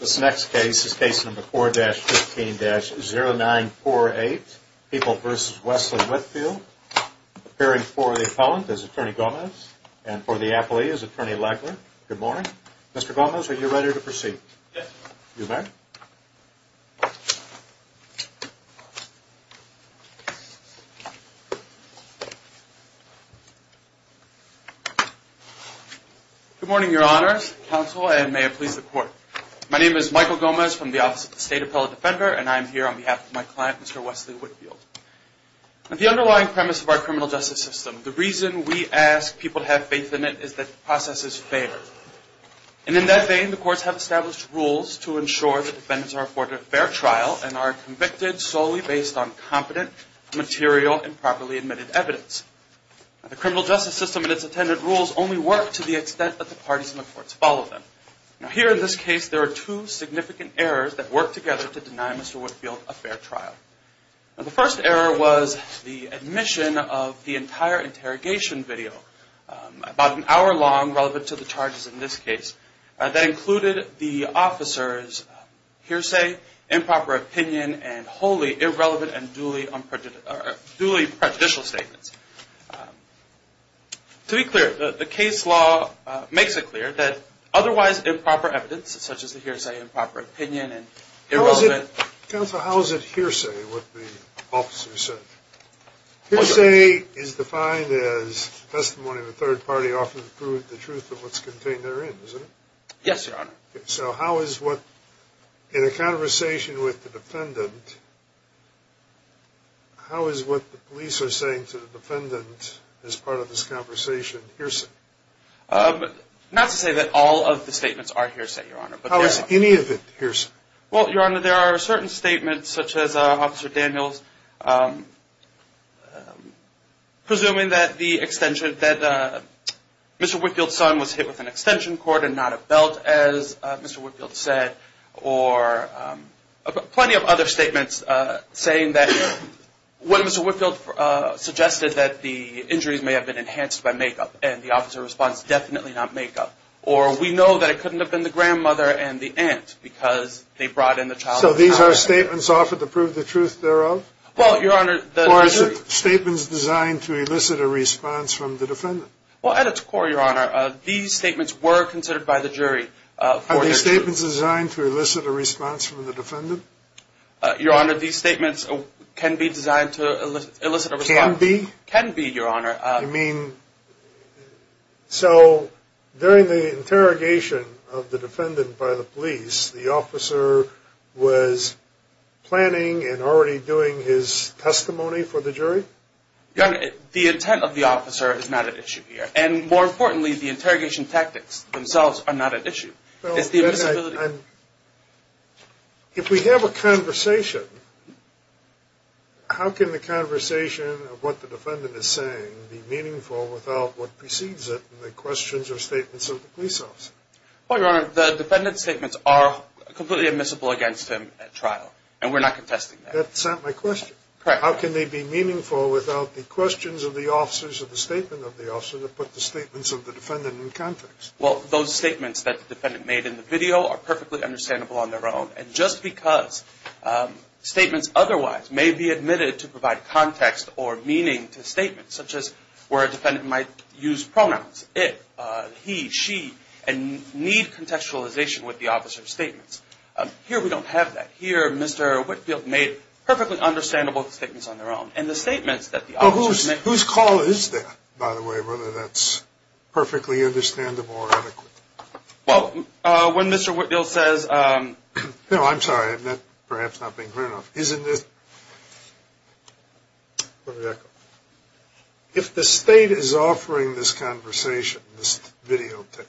This next case is Case No. 4-15-0948, People v. Wesley Whitfield, appearing for the Appellant as Attorney Gomez and for the Appellee as Attorney Legler. Good morning. Mr. Gomez, are you ready to proceed? Yes. You may. Good morning, Your Honors, Counsel, and may it please the Court. My name is Michael Gomez from the Office of the State Appellate Defender, and I am here on behalf of my client, Mr. Wesley Whitfield. The underlying premise of our criminal justice system, the reason we ask people to have faith in it, is that the process is fair. And in that vein, the courts have established rules to ensure that defendants are afforded a fair trial and are convicted solely based on competent, material, and properly admitted evidence. The criminal justice system and its attendant rules only work to the extent that the parties in the courts follow them. Here in this case, there are two significant errors that work together to deny Mr. Whitfield a fair trial. The first error was the admission of the entire interrogation video, about an hour long, relevant to the charges in this case, that included the officer's hearsay, improper opinion, and wholly irrelevant and duly prejudicial statements. To be clear, the case law makes it clear that otherwise improper evidence, such as the hearsay, improper opinion, and irrelevant... Counsel, how is it hearsay, what the officer said? Hearsay is defined as testimony of a third party often proved the truth of what's contained therein, isn't it? Yes, Your Honor. So how is what, in a conversation with the defendant, how is what the police are saying to the defendant as part of this conversation hearsay? Not to say that all of the statements are hearsay, Your Honor. How is any of it hearsay? Well, Your Honor, there are certain statements, such as Officer Daniels presuming that the extension, that Mr. Whitfield's son was hit with an extension cord and not a belt, as Mr. Whitfield said. Or plenty of other statements saying that when Mr. Whitfield suggested that the injuries may have been enhanced by makeup, and the officer responds, definitely not makeup. Or we know that it couldn't have been the grandmother and the aunt because they brought in the child... So these are statements offered to prove the truth thereof? Well, Your Honor... Or is it statements designed to elicit a response from the defendant? Well, at its core, Your Honor, these statements were considered by the jury. Are these statements designed to elicit a response from the defendant? Your Honor, these statements can be designed to elicit a response. Can be? Can be, Your Honor. You mean... So during the interrogation of the defendant by the police, the officer was planning and already doing his testimony for the jury? Your Honor, the intent of the officer is not at issue here. And more importantly, the interrogation tactics themselves are not at issue. It's the invisibility... And if we have a conversation, how can the conversation of what the defendant is saying be meaningful without what precedes it in the questions or statements of the police officer? Well, Your Honor, the defendant's statements are completely admissible against him at trial. And we're not contesting that. That's not my question. Correct. How can they be meaningful without the questions of the officers of the statement of the officer that put the statements of the defendant in context? Well, those statements that the defendant made in the video are perfectly understandable on their own. And just because statements otherwise may be admitted to provide context or meaning to statements, such as where a defendant might use pronouns, it, he, she, and need contextualization with the officer's statements, here we don't have that. Here, Mr. Whitfield made perfectly understandable statements on their own. Well, whose call is that, by the way, whether that's perfectly understandable or adequate? Well, when Mr. Whitfield says... No, I'm sorry. I've perhaps not been clear enough. Isn't this... Let me back up. If the state is offering this conversation, this videotape,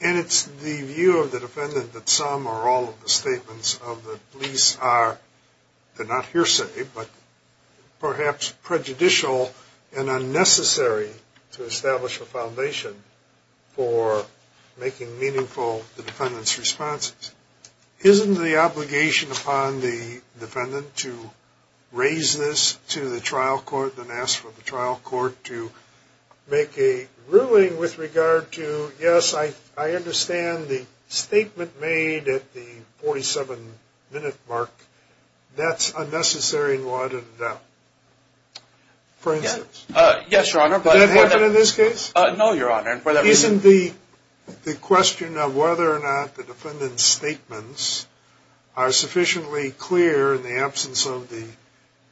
and it's the view of the defendant that some or all of the statements of the police are, they're not hearsay, but perhaps prejudicial and unnecessary to establish a foundation for making meaningful the defendant's responses, isn't the obligation upon the defendant to raise this to the trial court rather than ask for the trial court to make a ruling with regard to, yes, I understand the statement made at the 47-minute mark. That's unnecessary and lauded enough. For instance... Yes, Your Honor. No, Your Honor. Isn't the question of whether or not the defendant's statements are sufficiently clear in the absence of the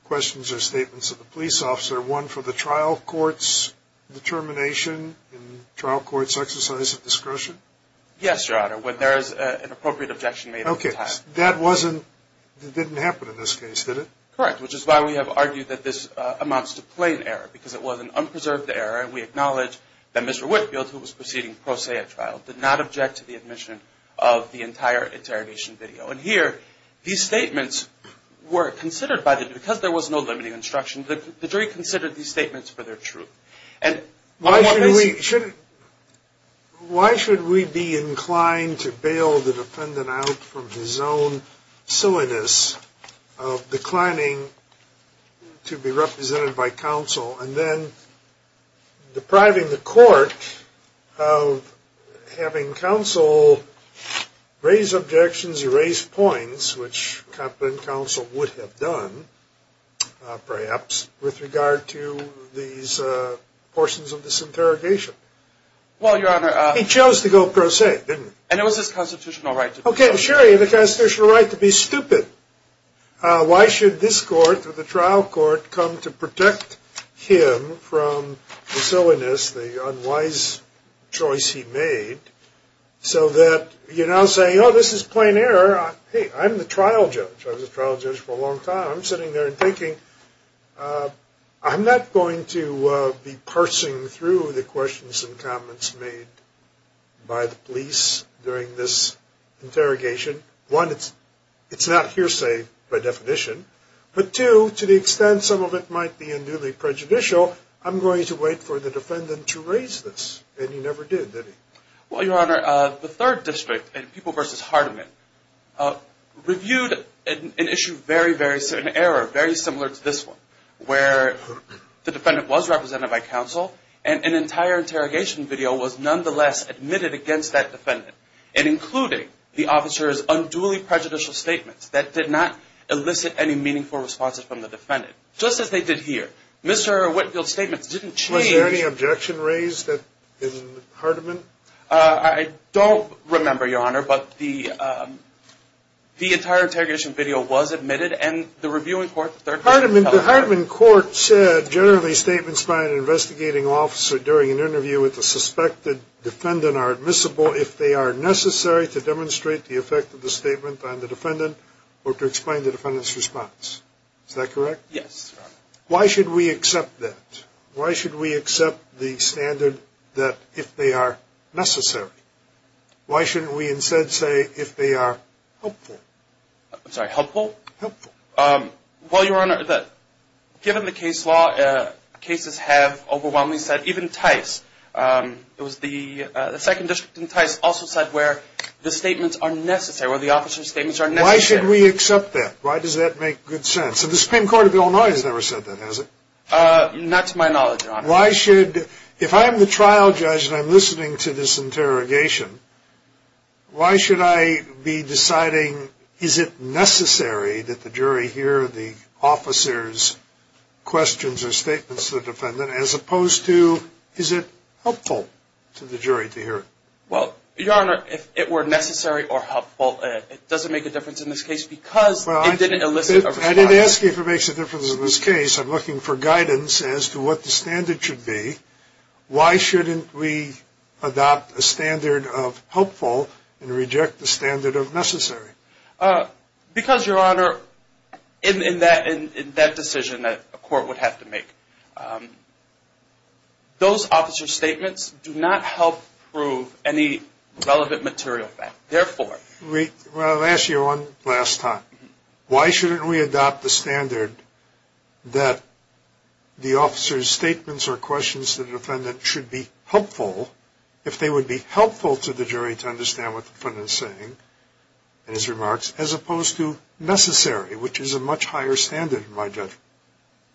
questions or statements of the police officer one for the trial court's determination and trial court's exercise of discretion? Yes, Your Honor. When there is an appropriate objection made at the time. Okay. That didn't happen in this case, did it? Correct, which is why we have argued that this amounts to plain error, because it was an unpreserved error, and we acknowledge that Mr. Whitfield, who was proceeding pro se at trial, did not object to the admission of the entire interrogation video. And here, these statements were considered by the jury, because there was no limiting instruction, the jury considered these statements for their truth. Why should we be inclined to bail the defendant out from his own silliness of declining to be represented by counsel and then depriving the court of having counsel raise objections, erase points, which competent counsel would have done, perhaps, with regard to these portions of this interrogation? Well, Your Honor... He chose to go pro se, didn't he? And it was his constitutional right to do so. Okay, sure, he had a constitutional right to be stupid. Why should this court, the trial court, come to protect him from the silliness, the unwise choice he made, so that you're now saying, oh, this is plain error. Hey, I'm the trial judge. I was a trial judge for a long time. I'm sitting there and thinking, I'm not going to be parsing through the questions and comments made by the police during this interrogation. One, it's not hearsay by definition. But two, to the extent some of it might be unduly prejudicial, I'm going to wait for the defendant to raise this. And he never did, did he? Well, Your Honor, the third district, People v. Hardiman, reviewed an issue, an error very similar to this one, where the defendant was represented by counsel and an entire interrogation video was nonetheless admitted against that defendant and including the officer's unduly prejudicial statements that did not elicit any meaningful responses from the defendant, just as they did here. Mr. Whitfield's statements didn't change. Was there any objection raised in Hardiman? I don't remember, Your Honor, but the entire interrogation video was admitted, and the reviewing court, the third district, held it. The Hardiman court said generally statements by an investigating officer during an interview with a suspected defendant are admissible if they are necessary to demonstrate the effect of the statement on the defendant or to explain the defendant's response. Is that correct? Yes, Your Honor. Why should we accept that? Why should we accept the standard that if they are necessary? Why shouldn't we instead say if they are helpful? I'm sorry, helpful? Helpful. Well, Your Honor, given the case law, cases have overwhelmingly said, even Tice, it was the second district in Tice also said where the statements are necessary, where the officer's statements are necessary. Why should we accept that? Why does that make good sense? The Supreme Court of Illinois has never said that, has it? Not to my knowledge, Your Honor. Why should, if I'm the trial judge and I'm listening to this interrogation, why should I be deciding is it necessary that the jury hear the officer's questions or statements to the defendant as opposed to is it helpful to the jury to hear it? Well, Your Honor, if it were necessary or helpful, it doesn't make a difference in this case because it didn't elicit a response. I didn't ask you if it makes a difference in this case. I'm looking for guidance as to what the standard should be. Why shouldn't we adopt a standard of helpful and reject the standard of necessary? Because, Your Honor, in that decision that a court would have to make, those officer's statements do not help prove any relevant material fact. Therefore. Well, I'll ask you one last time. Why shouldn't we adopt the standard that the officer's statements or questions to the defendant should be helpful, if they would be helpful to the jury to understand what the defendant is saying in his remarks, as opposed to necessary, which is a much higher standard in my judgment?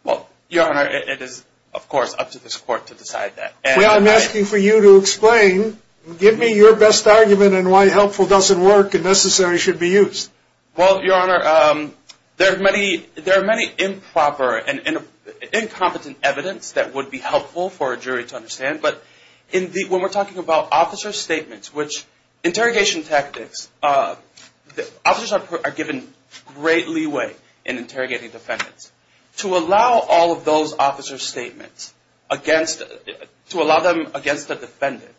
Well, Your Honor, it is, of course, up to this court to decide that. Well, I'm asking for you to explain. Give me your best argument on why helpful doesn't work and necessary should be used. Well, Your Honor, there are many improper and incompetent evidence that would be helpful for a jury to understand. But when we're talking about officer's statements, which interrogation tactics, officers are given great leeway in interrogating defendants. To allow all of those officer's statements, to allow them against the defendant,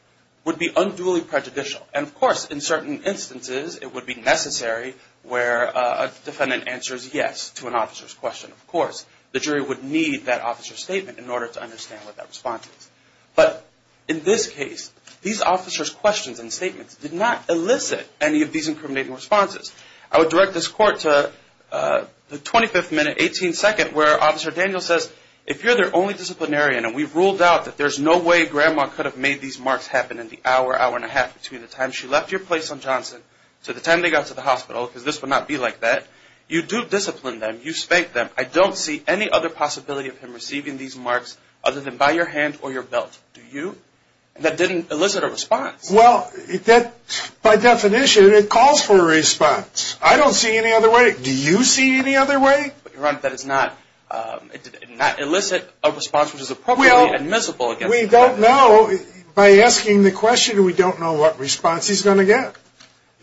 would be unduly prejudicial. And, of course, in certain instances, it would be necessary where a defendant answers yes to an officer's question. Of course, the jury would need that officer's statement in order to understand what that response is. But in this case, these officer's questions and statements did not elicit any of these incriminating responses. I would direct this court to the 25th minute, 18th second, where Officer Daniel says, If you're their only disciplinarian, and we've ruled out that there's no way Grandma could have made these marks happen in the hour, hour and a half, between the time she left your place on Johnson to the time they got to the hospital, because this would not be like that, you do discipline them, you spank them. I don't see any other possibility of him receiving these marks other than by your hand or your belt. Do you? That didn't elicit a response. Well, by definition, it calls for a response. I don't see any other way. Do you see any other way? Your Honor, that does not elicit a response which is appropriately admissible. Well, we don't know. By asking the question, we don't know what response he's going to get.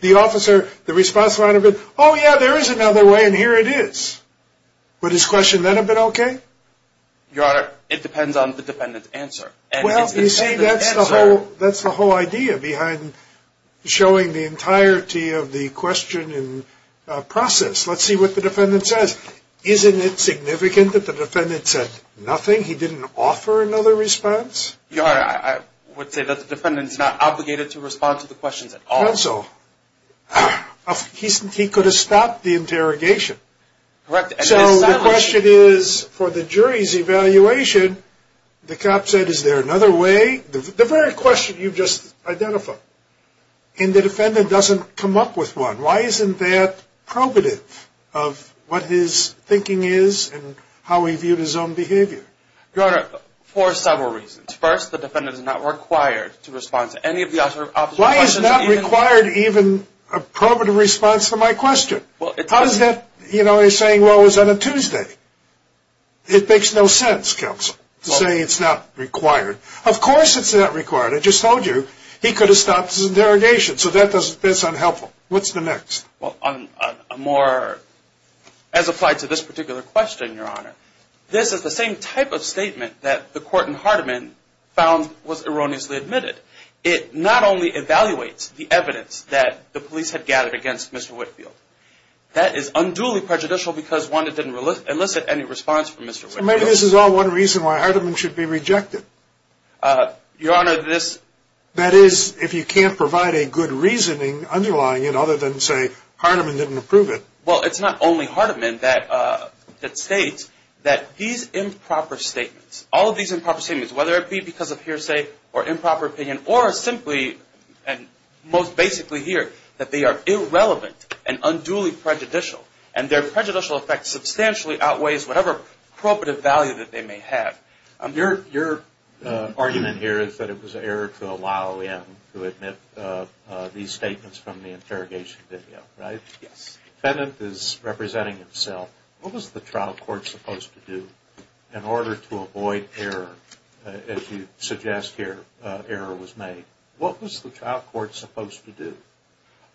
The officer, the response might have been, Oh, yeah, there is another way, and here it is. Would his question then have been okay? Your Honor, it depends on the defendant's answer. Well, you see, that's the whole idea behind showing the entirety of the question and process. Let's see what the defendant says. Isn't it significant that the defendant said nothing? He didn't offer another response? Your Honor, I would say that the defendant is not obligated to respond to the questions at all. Not so. He could have stopped the interrogation. Correct. So the question is, for the jury's evaluation, the cop said, Is there another way? The very question you just identified. And the defendant doesn't come up with one. Why isn't that probative of what his thinking is and how he viewed his own behavior? Your Honor, for several reasons. First, the defendant is not required to respond to any of the officer's questions. Why is not required even a probative response to my question? How is that, you know, he's saying, Well, it was on a Tuesday. It makes no sense, counsel, to say it's not required. Of course it's not required. I just told you he could have stopped his interrogation. So that's unhelpful. What's the next? Well, as applied to this particular question, Your Honor, this is the same type of statement that the court in Hardeman found was erroneously admitted. It not only evaluates the evidence that the police had gathered against Mr. Whitfield. That is unduly prejudicial because, one, it didn't elicit any response from Mr. Whitfield. So maybe this is all one reason why Hardeman should be rejected. Your Honor, this. That is, if you can't provide a good reasoning underlying it other than say Hardeman didn't approve it. Well, it's not only Hardeman that states that these improper statements, all of these improper statements, whether it be because of hearsay or improper opinion or simply and most basically here, that they are irrelevant and unduly prejudicial. And their prejudicial effect substantially outweighs whatever probative value that they may have. Your argument here is that it was error to allow him to admit these statements from the interrogation video, right? Yes. The defendant is representing himself. What was the trial court supposed to do in order to avoid error, as you suggest here, error was made? What was the trial court supposed to do?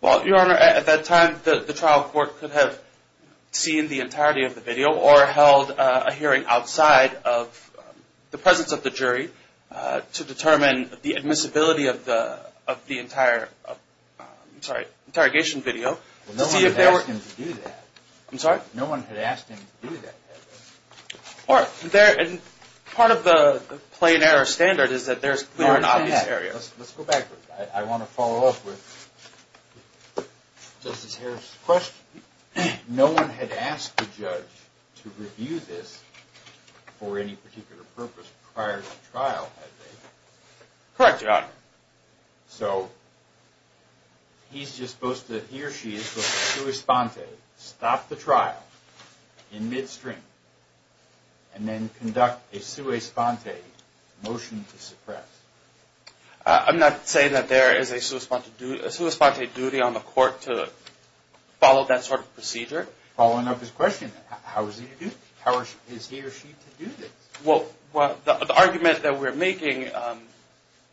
Well, Your Honor, at that time, the trial court could have seen the entirety of the video or held a hearing outside of the presence of the jury to determine the admissibility of the entire interrogation video. Well, no one had asked him to do that. I'm sorry? No one had asked him to do that. All right. And part of the plain error standard is that there's clear and obvious errors. Let's go backwards. I want to follow up with Justice Harris's question. No one had asked the judge to review this for any particular purpose prior to the trial, had they? Correct, Your Honor. So he's just supposed to, he or she is supposed to sui sponte, stop the trial in midstream, and then conduct a sui sponte motion to suppress. I'm not saying that there is a sui sponte duty on the court to follow that sort of procedure. Following up his question, how is he or she to do this? Well, the argument that we're making,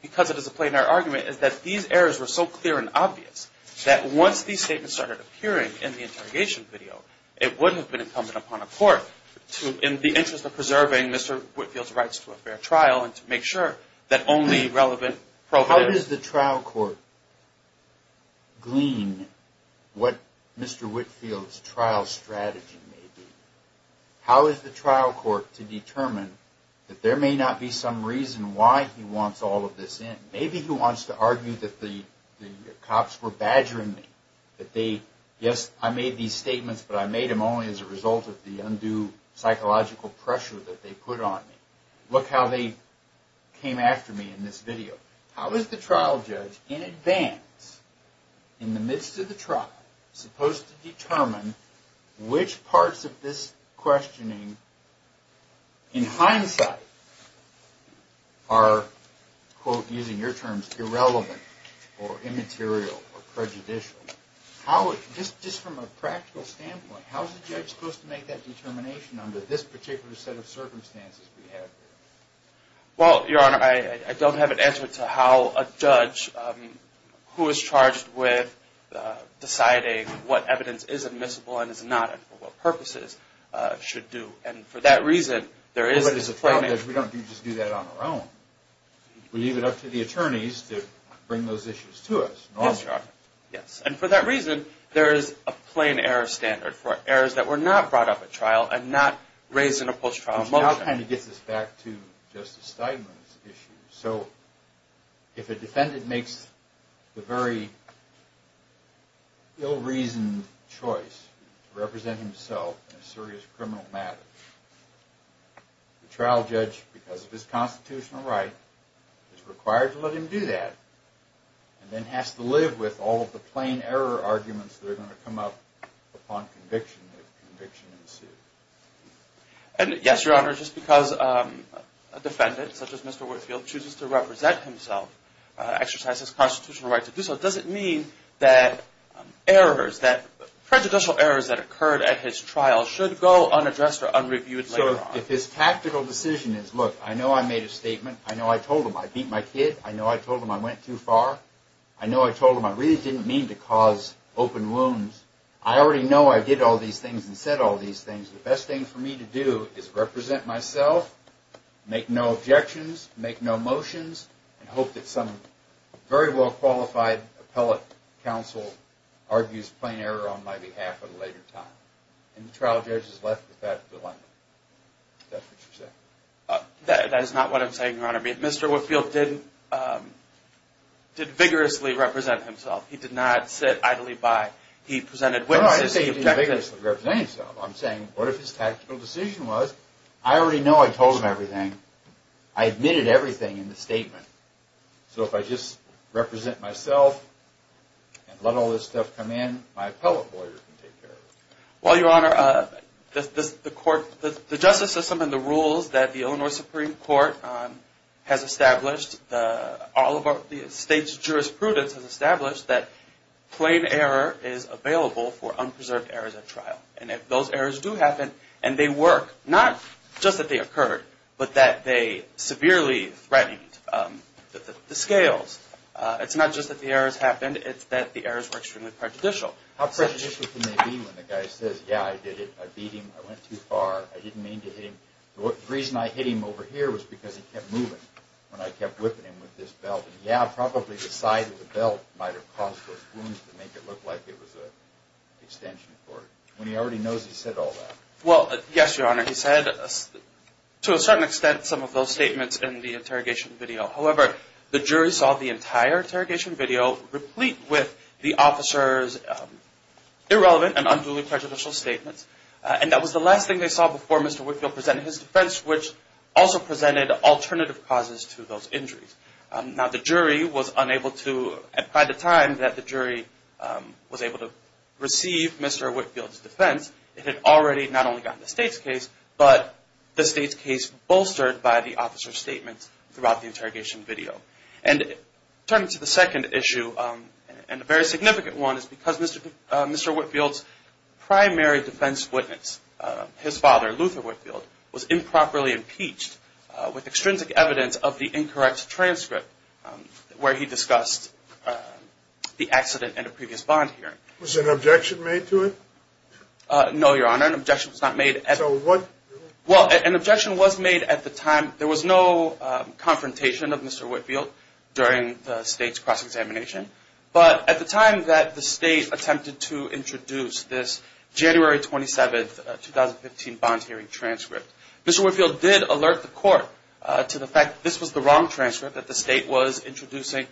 because it is a plain error argument, is that these errors were so clear and obvious that once these statements started appearing in the interrogation video, it would have been incumbent upon a court to, in the interest of preserving Mr. Whitfield's rights to a fair trial and to make sure that only relevant providers. How does the trial court glean what Mr. Whitfield's trial strategy may be? How is the trial court to determine that there may not be some reason why he wants all of this in? Maybe he wants to argue that the cops were badgering me, that they, yes, I made these statements, but I made them only as a result of the undue psychological pressure that they put on me. Look how they came after me in this video. How is the trial judge in advance, in the midst of the trial, supposed to determine which parts of this questioning, in hindsight, are, quote, using your terms, irrelevant or immaterial or prejudicial? Just from a practical standpoint, how is the judge supposed to make that determination under this particular set of circumstances we have here? Well, Your Honor, I don't have an answer to how a judge who is charged with deciding what evidence is admissible and is not and for what purposes should do. And for that reason, there is a claim that we don't just do that on our own. We leave it up to the attorneys to bring those issues to us. Yes, Your Honor. Yes. And for that reason, there is a plain error standard for errors that were not brought up at trial and not raised in a post-trial motion. Which now kind of gets us back to Justice Steinman's issue. So if a defendant makes the very ill-reasoned choice to represent himself in a serious criminal matter, the trial judge, because of his constitutional right, is required to let him do that and then has to live with all of the plain error arguments that are going to come up upon conviction if conviction ensues. And yes, Your Honor, just because a defendant, such as Mr. Whitefield, chooses to represent himself, exercise his constitutional right to do so, it doesn't mean that errors, that prejudicial errors that occurred at his trial should go unaddressed or unreviewed later on. So if his tactical decision is, look, I know I made a statement. I know I told him I beat my kid. I know I told him I went too far. I know I told him I really didn't mean to cause open wounds. I already know I did all these things and said all these things. The best thing for me to do is represent myself, make no objections, make no motions, and hope that some very well-qualified appellate counsel argues plain error on my behalf at a later time. And the trial judge has left with that dilemma. Is that what you're saying? That is not what I'm saying, Your Honor. I mean, Mr. Whitefield did vigorously represent himself. He did not sit idly by. He presented witnesses. Well, I didn't say he didn't vigorously represent himself. I'm saying, what if his tactical decision was, I already know I told him everything. I admitted everything in the statement. So if I just represent myself and let all this stuff come in, my appellate lawyer can take care of it. Well, Your Honor, the justice system and the rules that the Illinois Supreme Court has established, all of the state's jurisprudence has established that plain error is available for unpreserved errors at trial. And if those errors do happen, and they work, not just that they occurred, but that they severely threatened the scales. It's not just that the errors happened. It's that the errors were extremely prejudicial. How prejudicial can they be when the guy says, yeah, I did it, I beat him, I went too far, I didn't mean to hit him. The reason I hit him over here was because he kept moving when I kept whipping him with this belt. Yeah, probably the side of the belt might have caused those wounds to make it look like it was an extension cord. When he already knows he said all that. Well, yes, Your Honor, he said to a certain extent some of those statements in the interrogation video. However, the jury saw the entire interrogation video replete with the officer's irrelevant and unduly prejudicial statements. And that was the last thing they saw before Mr. Whitfield presented his defense, which also presented alternative causes to those injuries. Now, the jury was unable to, by the time that the jury was able to receive Mr. Whitfield's defense, it had already not only gotten the state's case, but the state's case bolstered by the officer's statements throughout the interrogation video. And turning to the second issue, and a very significant one, is because Mr. Whitfield's primary defense witness, his father, Luther Whitfield, was improperly impeached with extrinsic evidence of the incorrect transcript where he discussed the accident at a previous bond hearing. Was an objection made to it? No, Your Honor, an objection was not made. So what? Well, an objection was made at the time. There was no confrontation of Mr. Whitfield during the state's cross-examination. But at the time that the state attempted to introduce this January 27, 2015, bond hearing transcript, Mr. Whitfield did alert the court to the fact that this was the wrong transcript, that the state was introducing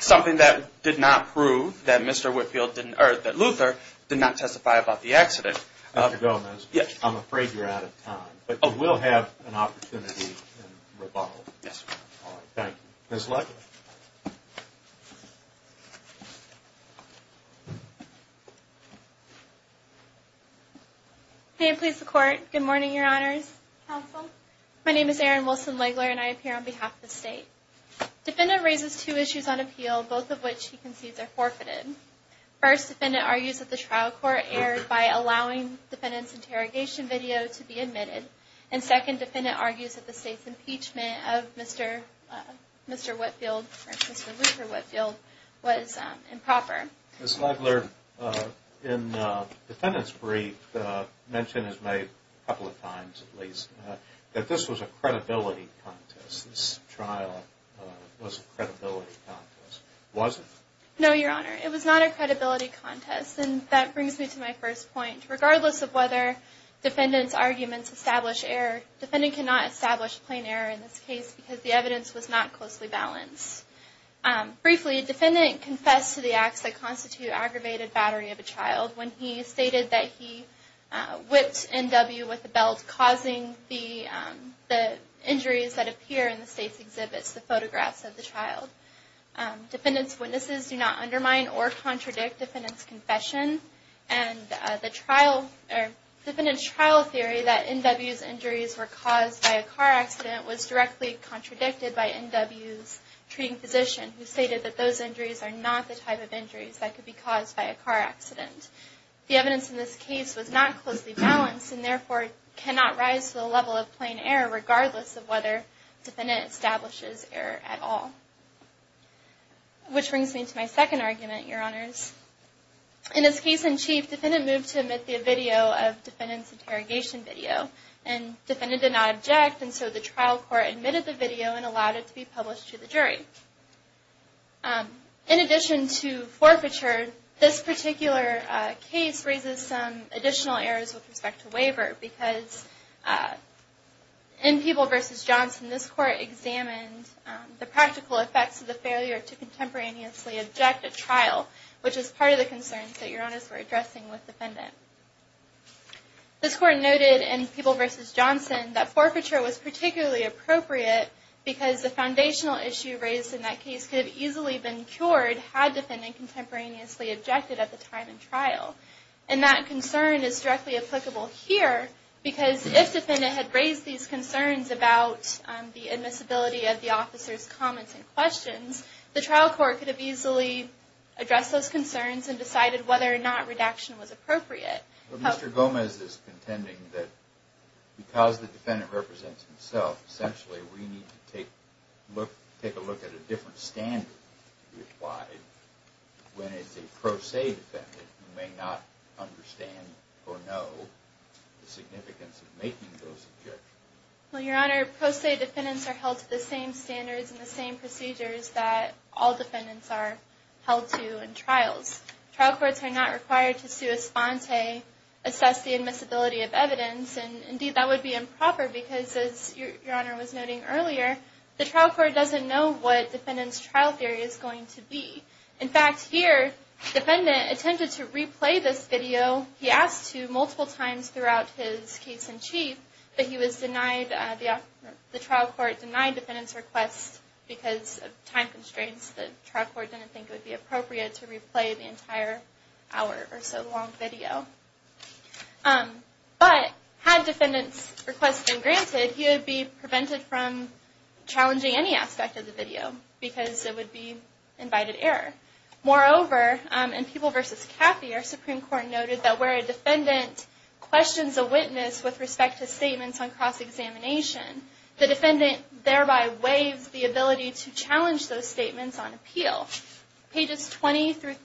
something that did not prove that Luther did not testify about the accident. Mr. Gomez, I'm afraid you're out of time, but you will have an opportunity in rebuttal. Yes, Your Honor. Thank you. Ms. Legler. May it please the Court, good morning, Your Honors, Counsel. My name is Erin Wilson-Legler, and I appear on behalf of the state. Defendant raises two issues on appeal, both of which he concedes are forfeited. First, defendant argues that the trial court erred by allowing defendant's interrogation video to be admitted. And second, defendant argues that the state's impeachment of Mr. Whitfield, or Mr. Luther Whitfield, was improper. Ms. Legler, in the defendant's brief, mentioned as made a couple of times at least, that this was a credibility contest. This trial was a credibility contest. Was it? No, Your Honor. It was not a credibility contest. And that brings me to my first point. Regardless of whether defendant's arguments establish error, defendant cannot establish plain error in this case because the evidence was not closely balanced. Briefly, defendant confessed to the acts that constitute aggravated battery of a child when he stated that he whipped NW with a belt, causing the injuries that appear in the state's exhibits, the photographs of the child. Defendant's witnesses do not undermine or contradict defendant's confession. And defendant's trial theory that NW's injuries were caused by a car accident was directly contradicted by NW's treating physician, who stated that those injuries are not the type of injuries that could be caused by a car accident. The evidence in this case was not closely balanced and therefore cannot rise to the level of plain error, regardless of whether defendant establishes error at all. Which brings me to my second argument, Your Honors. In this case in chief, defendant moved to admit the video of defendant's interrogation video. And defendant did not object and so the trial court admitted the video and allowed it to be published to the jury. In addition to forfeiture, this particular case raises some additional errors with respect to waiver. Because in Peeble v. Johnson, this court examined the practical effects of the failure to contemporaneously object at trial. Which is part of the concerns that Your Honors were addressing with defendant. This court noted in Peeble v. Johnson that forfeiture was particularly appropriate because the foundational issue raised in that case could have easily been cured had defendant contemporaneously objected at the time in trial. And that concern is directly applicable here because if defendant had raised these concerns about the admissibility of the officer's comments and questions, the trial court could have easily addressed those concerns and decided whether or not redaction was appropriate. But Mr. Gomez is contending that because the defendant represents himself, essentially we need to take a look at a different standard to be applied when it's a pro se defendant who may not understand or know the significance of making those objections. Well Your Honor, pro se defendants are held to the same standards and the same procedures that all defendants are held to in trials. Trial courts are not required to sua sponte assess the admissibility of evidence. And indeed that would be improper because as Your Honor was noting earlier, the trial court doesn't know what defendant's trial theory is going to be. In fact here, defendant attempted to replay this video, he asked to multiple times throughout his case in chief, but he was denied, the trial court denied defendant's request because of time constraints. The trial court didn't think it would be appropriate to replay the entire hour or so long video. But had defendant's request been granted, he would be prevented from challenging any aspect of the video because it would be invited error. Moreover, in People v. Caffey, our Supreme Court noted that where a defendant questions a witness with respect to statements on cross-examination, the defendant thereby waives the ability to challenge those statements on appeal. Pages 20-38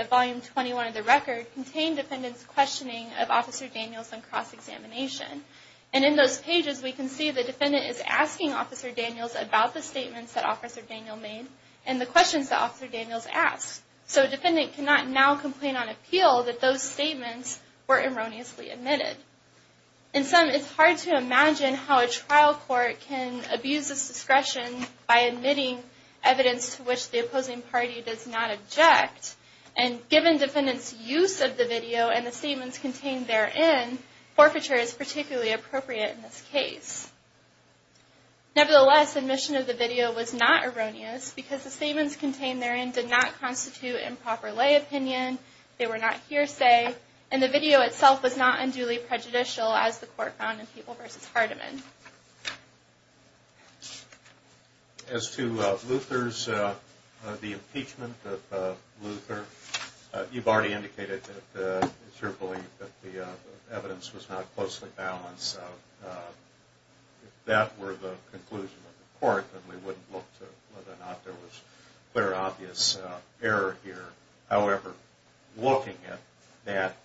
of Volume 21 of the record contain defendant's questioning of Officer Daniels on cross-examination. And in those pages we can see the defendant is asking Officer Daniels about the statements that Officer Daniels made and the questions that Officer Daniels asked. So defendant cannot now complain on appeal that those statements were erroneously admitted. In sum, it's hard to imagine how a trial court can abuse this discretion by admitting evidence to which the opposing party does not object. And given defendant's use of the video and the statements contained therein, forfeiture is particularly appropriate in this case. Nevertheless, admission of the video was not erroneous because the statements contained therein did not constitute improper lay opinion, they were not hearsay, and the video itself was not unduly prejudicial as the court found in People v. Hardeman. As to Luther's, the impeachment of Luther, you've already indicated that it's your belief that the evidence was not closely balanced. If that were the conclusion of the court, then we wouldn't look to whether or not there was clear and obvious error here. However, looking at that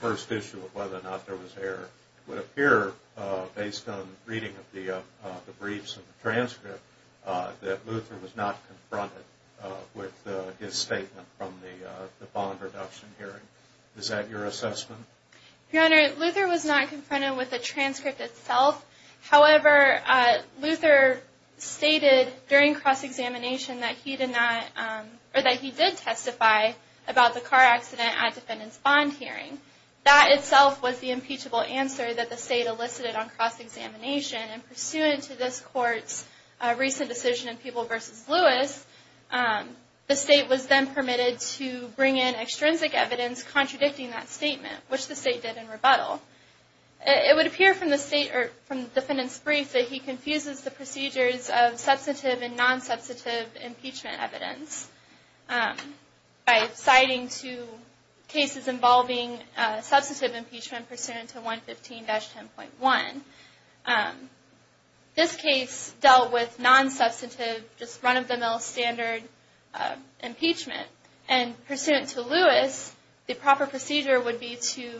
first issue of whether or not there was error, it would appear, based on reading of the briefs and the transcript, that Luther was not confronted with his statement from the bond reduction hearing. Is that your assessment? Your Honor, Luther was not confronted with the transcript itself. However, Luther stated during cross-examination that he did testify about the car accident at defendant's bond hearing. That itself was the impeachable answer that the state elicited on cross-examination, and pursuant to this court's recent decision in People v. Lewis, the state was then permitted to bring in extrinsic evidence contradicting that statement, which the state did in rebuttal. It would appear from the defendant's brief that he confuses the procedures of substantive and non-substantive impeachment evidence by citing two cases involving substantive impeachment pursuant to 115-10.1. This case dealt with non-substantive, just run-of-the-mill standard impeachment. And pursuant to Lewis, the proper procedure would be to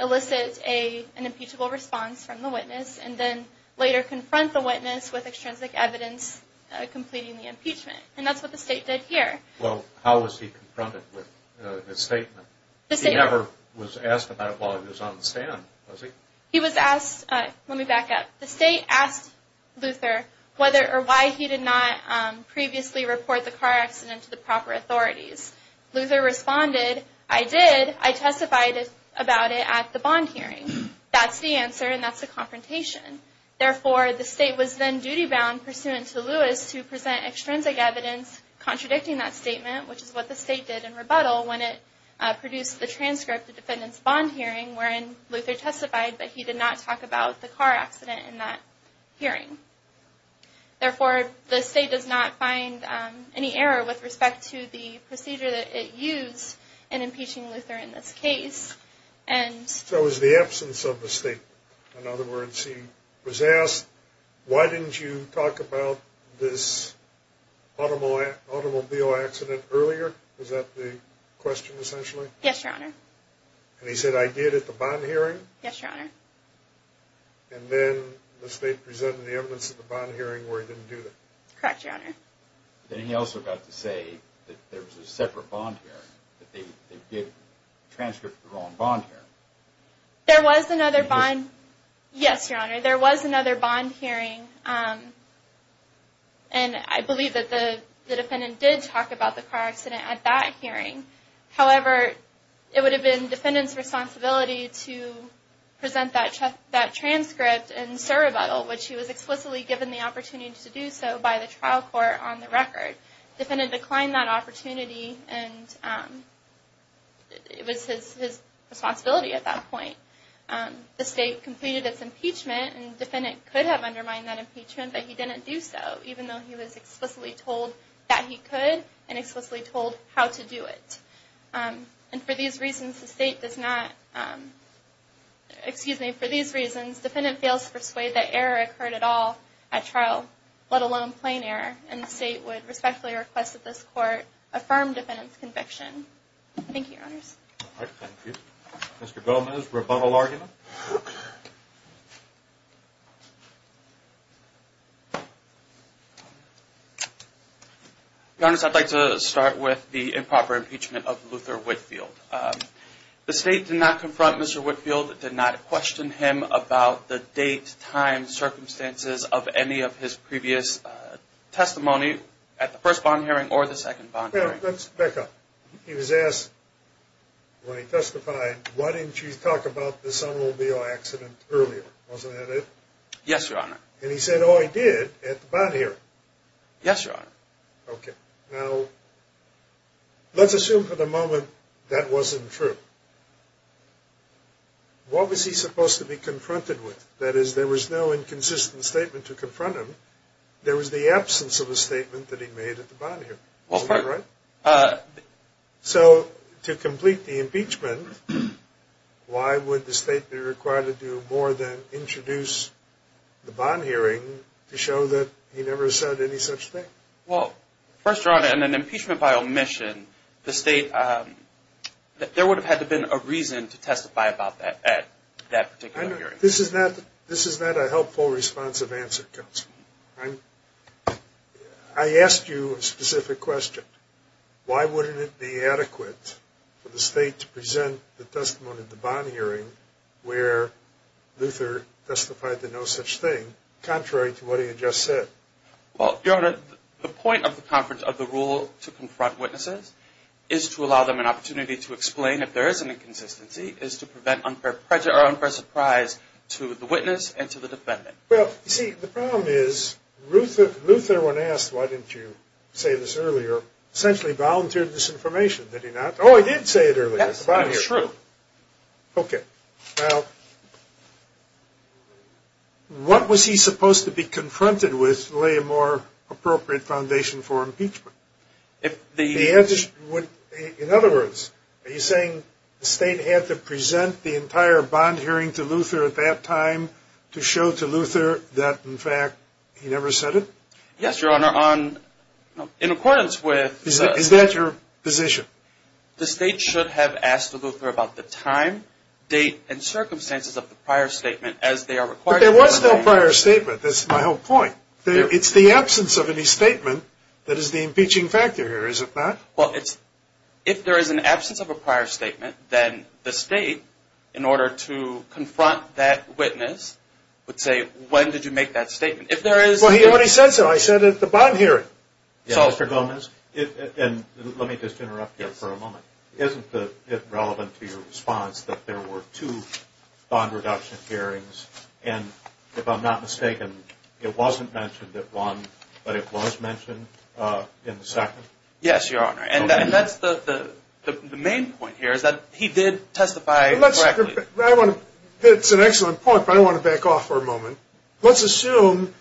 elicit an impeachable response from the witness and then later confront the witness with extrinsic evidence completing the impeachment. And that's what the state did here. Well, how was he confronted with his statement? He never was asked about it while he was on the stand, was he? He was asked, let me back up, the state asked Luther whether or why he did not previously report the car accident to the proper authorities. Luther responded, I did, I testified about it at the bond hearing. That's the answer and that's the confrontation. Therefore, the state was then duty-bound pursuant to Lewis to present extrinsic evidence contradicting that statement, which is what the state did in rebuttal when it produced the transcript of the defendant's bond hearing, wherein Luther testified, but he did not talk about the car accident in that hearing. Therefore, the state does not find any error with respect to the procedure that it used in impeaching Luther in this case. So it was the absence of the statement. In other words, he was asked, why didn't you talk about this automobile accident earlier? Was that the question, essentially? Yes, Your Honor. And he said, I did at the bond hearing? Yes, Your Honor. And then the state presented the evidence at the bond hearing where he didn't do that. Correct, Your Honor. Then he also got to say that there was a separate bond hearing, that they did transcript the wrong bond hearing. There was another bond, yes, Your Honor, there was another bond hearing. And I believe that the defendant did talk about the car accident at that hearing. However, it would have been the defendant's responsibility to present that transcript in servile, which he was explicitly given the opportunity to do so by the trial court on the record. The defendant declined that opportunity, and it was his responsibility at that point. The state completed its impeachment, and the defendant could have undermined that impeachment, but he didn't do so, even though he was explicitly told that he could, and explicitly told how to do it. And for these reasons, the state does not, excuse me, for these reasons, defendant fails to persuade that error occurred at all at trial, let alone plain error, and the state would respectfully request that this court affirm defendant's conviction. Thank you, Your Honors. Thank you. Mr. Gomez, rebuttal argument? Your Honors, I'd like to start with the improper impeachment of Luther Whitfield. The state did not confront Mr. Whitfield. It did not question him about the date, time, circumstances of any of his previous testimony at the first bond hearing or the second bond hearing. Let's back up. He was asked, when he testified, why didn't you talk about the sum of the losses? Wasn't that it? Yes, Your Honor. And he said, oh, I did, at the bond hearing. Yes, Your Honor. Okay. Now, let's assume for the moment that wasn't true. What was he supposed to be confronted with? That is, there was no inconsistent statement to confront him. There was the absence of a statement that he made at the bond hearing. Isn't that right? So, to complete the impeachment, why would the state be required to do more than introduce the bond hearing to show that he never said any such thing? Well, first, Your Honor, in an impeachment by omission, the state, there would have had to have been a reason to testify about that at that particular hearing. This is not a helpful, responsive answer, Counselor. I asked you a specific question. Why wouldn't it be adequate for the state to present the testimony at the bond hearing where Luther testified to no such thing, contrary to what he had just said? Well, Your Honor, the point of the conference, of the rule to confront witnesses, is to allow them an opportunity to explain if there is an inconsistency, is to prevent unfair surprise to the witness and to the defendant. Well, you see, the problem is, Luther, when asked why didn't you say this earlier, essentially volunteered this information, did he not? Oh, he did say it earlier at the bond hearing. That is true. Okay. Well, what was he supposed to be confronted with to lay a more appropriate foundation for impeachment? In other words, are you saying the state had to present the entire bond hearing to Luther at that time to show to Luther that, in fact, he never said it? Yes, Your Honor, in accordance with... Is that your position? The state should have asked Luther about the time, date, and circumstances of the prior statement as they are required... But there was no prior statement. That's my whole point. It's the absence of any statement that is the impeaching factor here, is it not? Well, if there is an absence of a prior statement, then the state, in order to confront that witness, would say, when did you make that statement? If there is... Well, he already said so. I said at the bond hearing. Mr. Gomez, let me just interrupt you for a moment. Isn't it relevant to your response that there were two bond reduction hearings, and if I'm not mistaken, it wasn't mentioned at one, but it was mentioned in the second? Yes, Your Honor. And that's the main point here, is that he did testify correctly. It's an excellent point, but I want to back off for a moment. Let's assume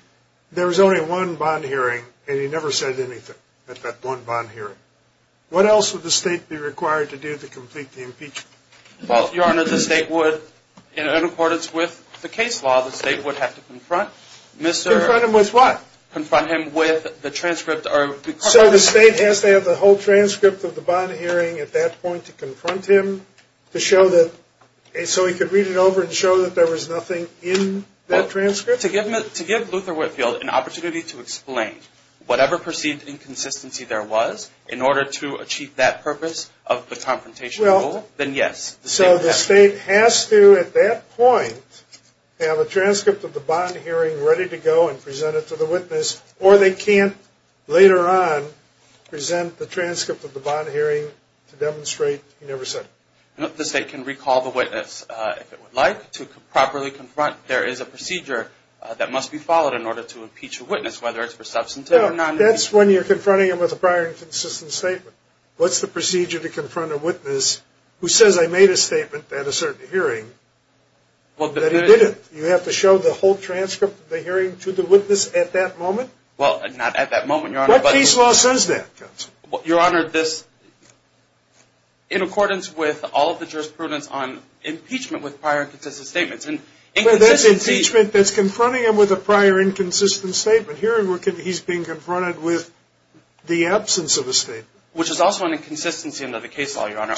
there was only one bond hearing, and he never said anything at that one bond hearing. What else would the state be required to do to complete the impeachment? Well, Your Honor, the state would, in accordance with the case law, the state would have to confront Mr. Confront him with what? Confront him with the transcript or... So the state has to have the whole transcript of the bond hearing at that point to confront him to show that... To give Luther Whitfield an opportunity to explain whatever perceived inconsistency there was in order to achieve that purpose of the confrontation rule, then yes. So the state has to, at that point, have a transcript of the bond hearing ready to go and present it to the witness, or they can't later on present the transcript of the bond hearing to demonstrate he never said it. The state can recall the witness if it would like to properly confront. There is a procedure that must be followed in order to impeach a witness, whether it's for substantive or non... That's when you're confronting him with a prior inconsistent statement. What's the procedure to confront a witness who says I made a statement at a certain hearing that I didn't? You have to show the whole transcript of the hearing to the witness at that moment? Well, not at that moment, Your Honor, but... What case law says that, counsel? Your Honor, this in accordance with all of the jurisprudence on impeachment with prior inconsistent statements. That's impeachment that's confronting him with a prior inconsistent statement. Here he's being confronted with the absence of a statement. Which is also an inconsistency under the case law, Your Honor.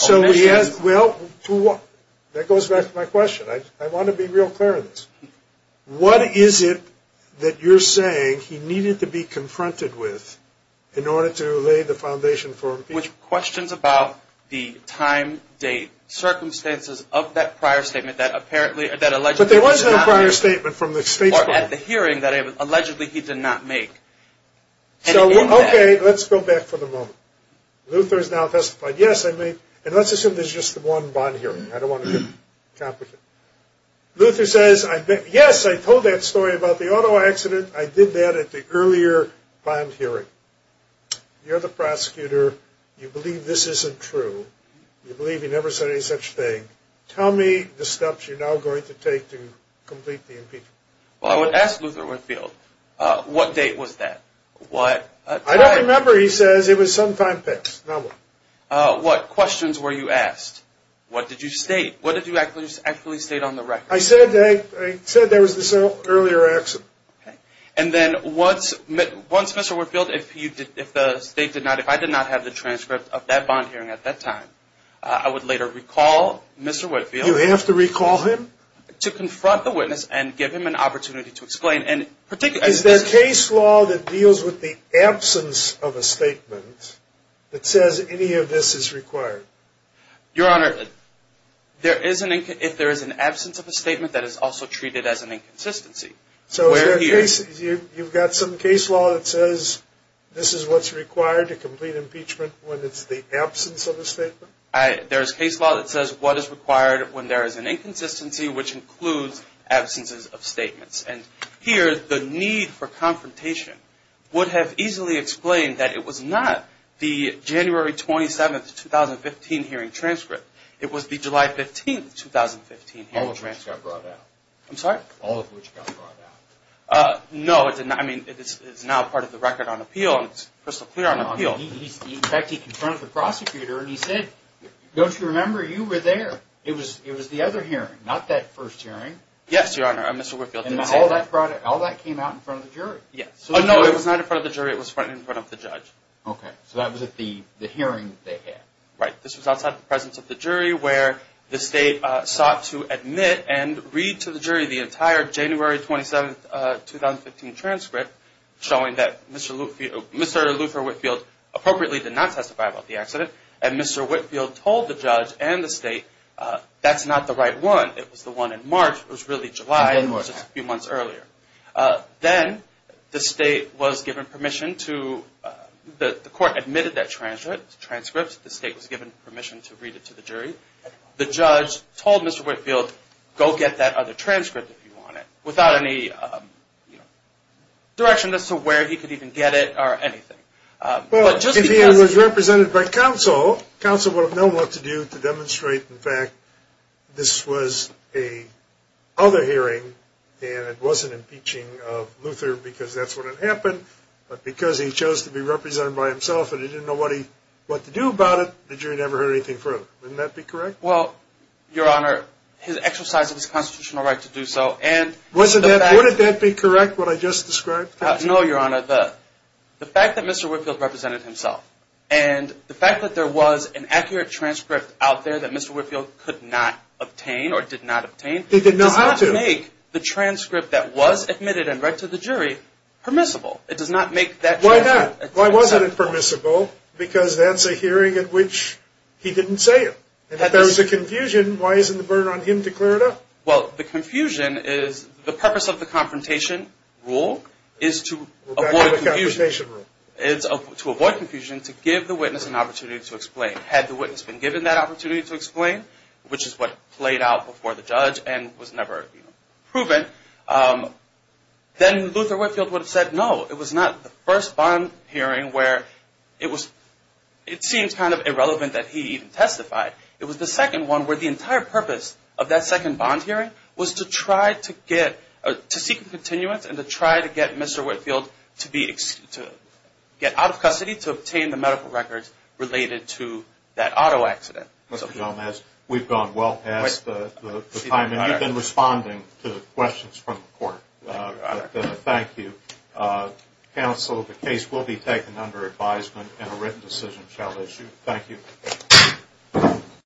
Well, that goes back to my question. I want to be real clear on this. What is it that you're saying he needed to be confronted with in order to lay the foundation for impeachment? Which questions about the time, date, circumstances of that prior statement that apparently... But there was no prior statement from the state's... Or at the hearing that allegedly he did not make. So, okay, let's go back for the moment. Luther has now testified, yes, I made... And let's assume there's just one bond hearing. I don't want to get complicated. Luther says, yes, I told that story about the auto accident. I did that at the earlier bond hearing. You're the prosecutor. You believe this isn't true. You believe he never said any such thing. Tell me the steps you're now going to take to complete the impeachment. Well, I would ask Luther Winfield, what date was that? I don't remember. He says it was sometime past. Now what? What questions were you asked? What did you state? What did you actually state on the record? I said there was this earlier accident. Okay. And then once Mr. Winfield, if I did not have the transcript of that bond hearing at that time, I would later recall Mr. Winfield... You have to recall him? To confront the witness and give him an opportunity to explain. Is there case law that deals with the absence of a statement that says any of this is required? Your Honor, if there is an absence of a statement, that is also treated as an inconsistency. So you've got some case law that says this is what's required to complete impeachment when it's the absence of a statement? There's case law that says what is required when there is an inconsistency, which includes absences of statements. And here the need for confrontation would have easily explained that it was not the January 27, 2015 hearing transcript. It was the July 15, 2015 hearing transcript. All of which got brought out. I'm sorry? All of which got brought out. No, it's now part of the record on appeal. It's crystal clear on appeal. In fact, he confronted the prosecutor and he said, don't you remember? You were there. It was the other hearing, not that first hearing. Yes, Your Honor. Mr. Whitfield did say that. And all that came out in front of the jury? Yes. Oh, no, it was not in front of the jury. It was in front of the judge. Okay. So that was at the hearing that they had. Right. This was outside the presence of the jury where the state sought to admit and read to the jury the entire January 27, 2015 transcript showing that Mr. Luther Whitfield appropriately did not testify about the accident. And Mr. Whitfield told the judge and the state, that's not the right one. It was the one in March. It was really July and it was just a few months earlier. Then the state was given permission to, the court admitted that transcript. The state was given permission to read it to the jury. The judge told Mr. Whitfield, go get that other transcript if you want it, without any direction as to where he could even get it or anything. Well, if he was represented by counsel, counsel would have known what to do to demonstrate, in fact, this was a other hearing and it wasn't impeaching of Luther because that's what had happened, but because he chose to be represented by himself and he didn't know what to do about it, the jury never heard anything further. Wouldn't that be correct? Well, Your Honor, his exercise of his constitutional right to do so. Wouldn't that be correct, what I just described? No, Your Honor. The fact that Mr. Whitfield represented himself and the fact that there was an accurate transcript out there that Mr. Whitfield could not obtain or did not obtain does not make the transcript that was admitted and read to the jury permissible. It does not make that transcript permissible. Why not? Why wasn't it permissible? Because that's a hearing in which he didn't say it. If there was a confusion, why isn't the burden on him to clear it up? Well, the confusion is the purpose of the confrontation rule is to avoid confusion. To avoid confusion, to give the witness an opportunity to explain. Had the witness been given that opportunity to explain, which is what played out before the judge and was never proven, then Luther Whitfield would have said no. It was not the first bond hearing where it seems kind of irrelevant that he even testified. It was the second one where the entire purpose of that second bond hearing was to seek a continuance and to try to get Mr. Whitfield to get out of custody to obtain the medical records related to that auto accident. Mr. Gomez, we've gone well past the time, and you've been responding to questions from the court. Thank you. Counsel, the case will be taken under advisement and a written decision shall issue. Thank you. Thank you.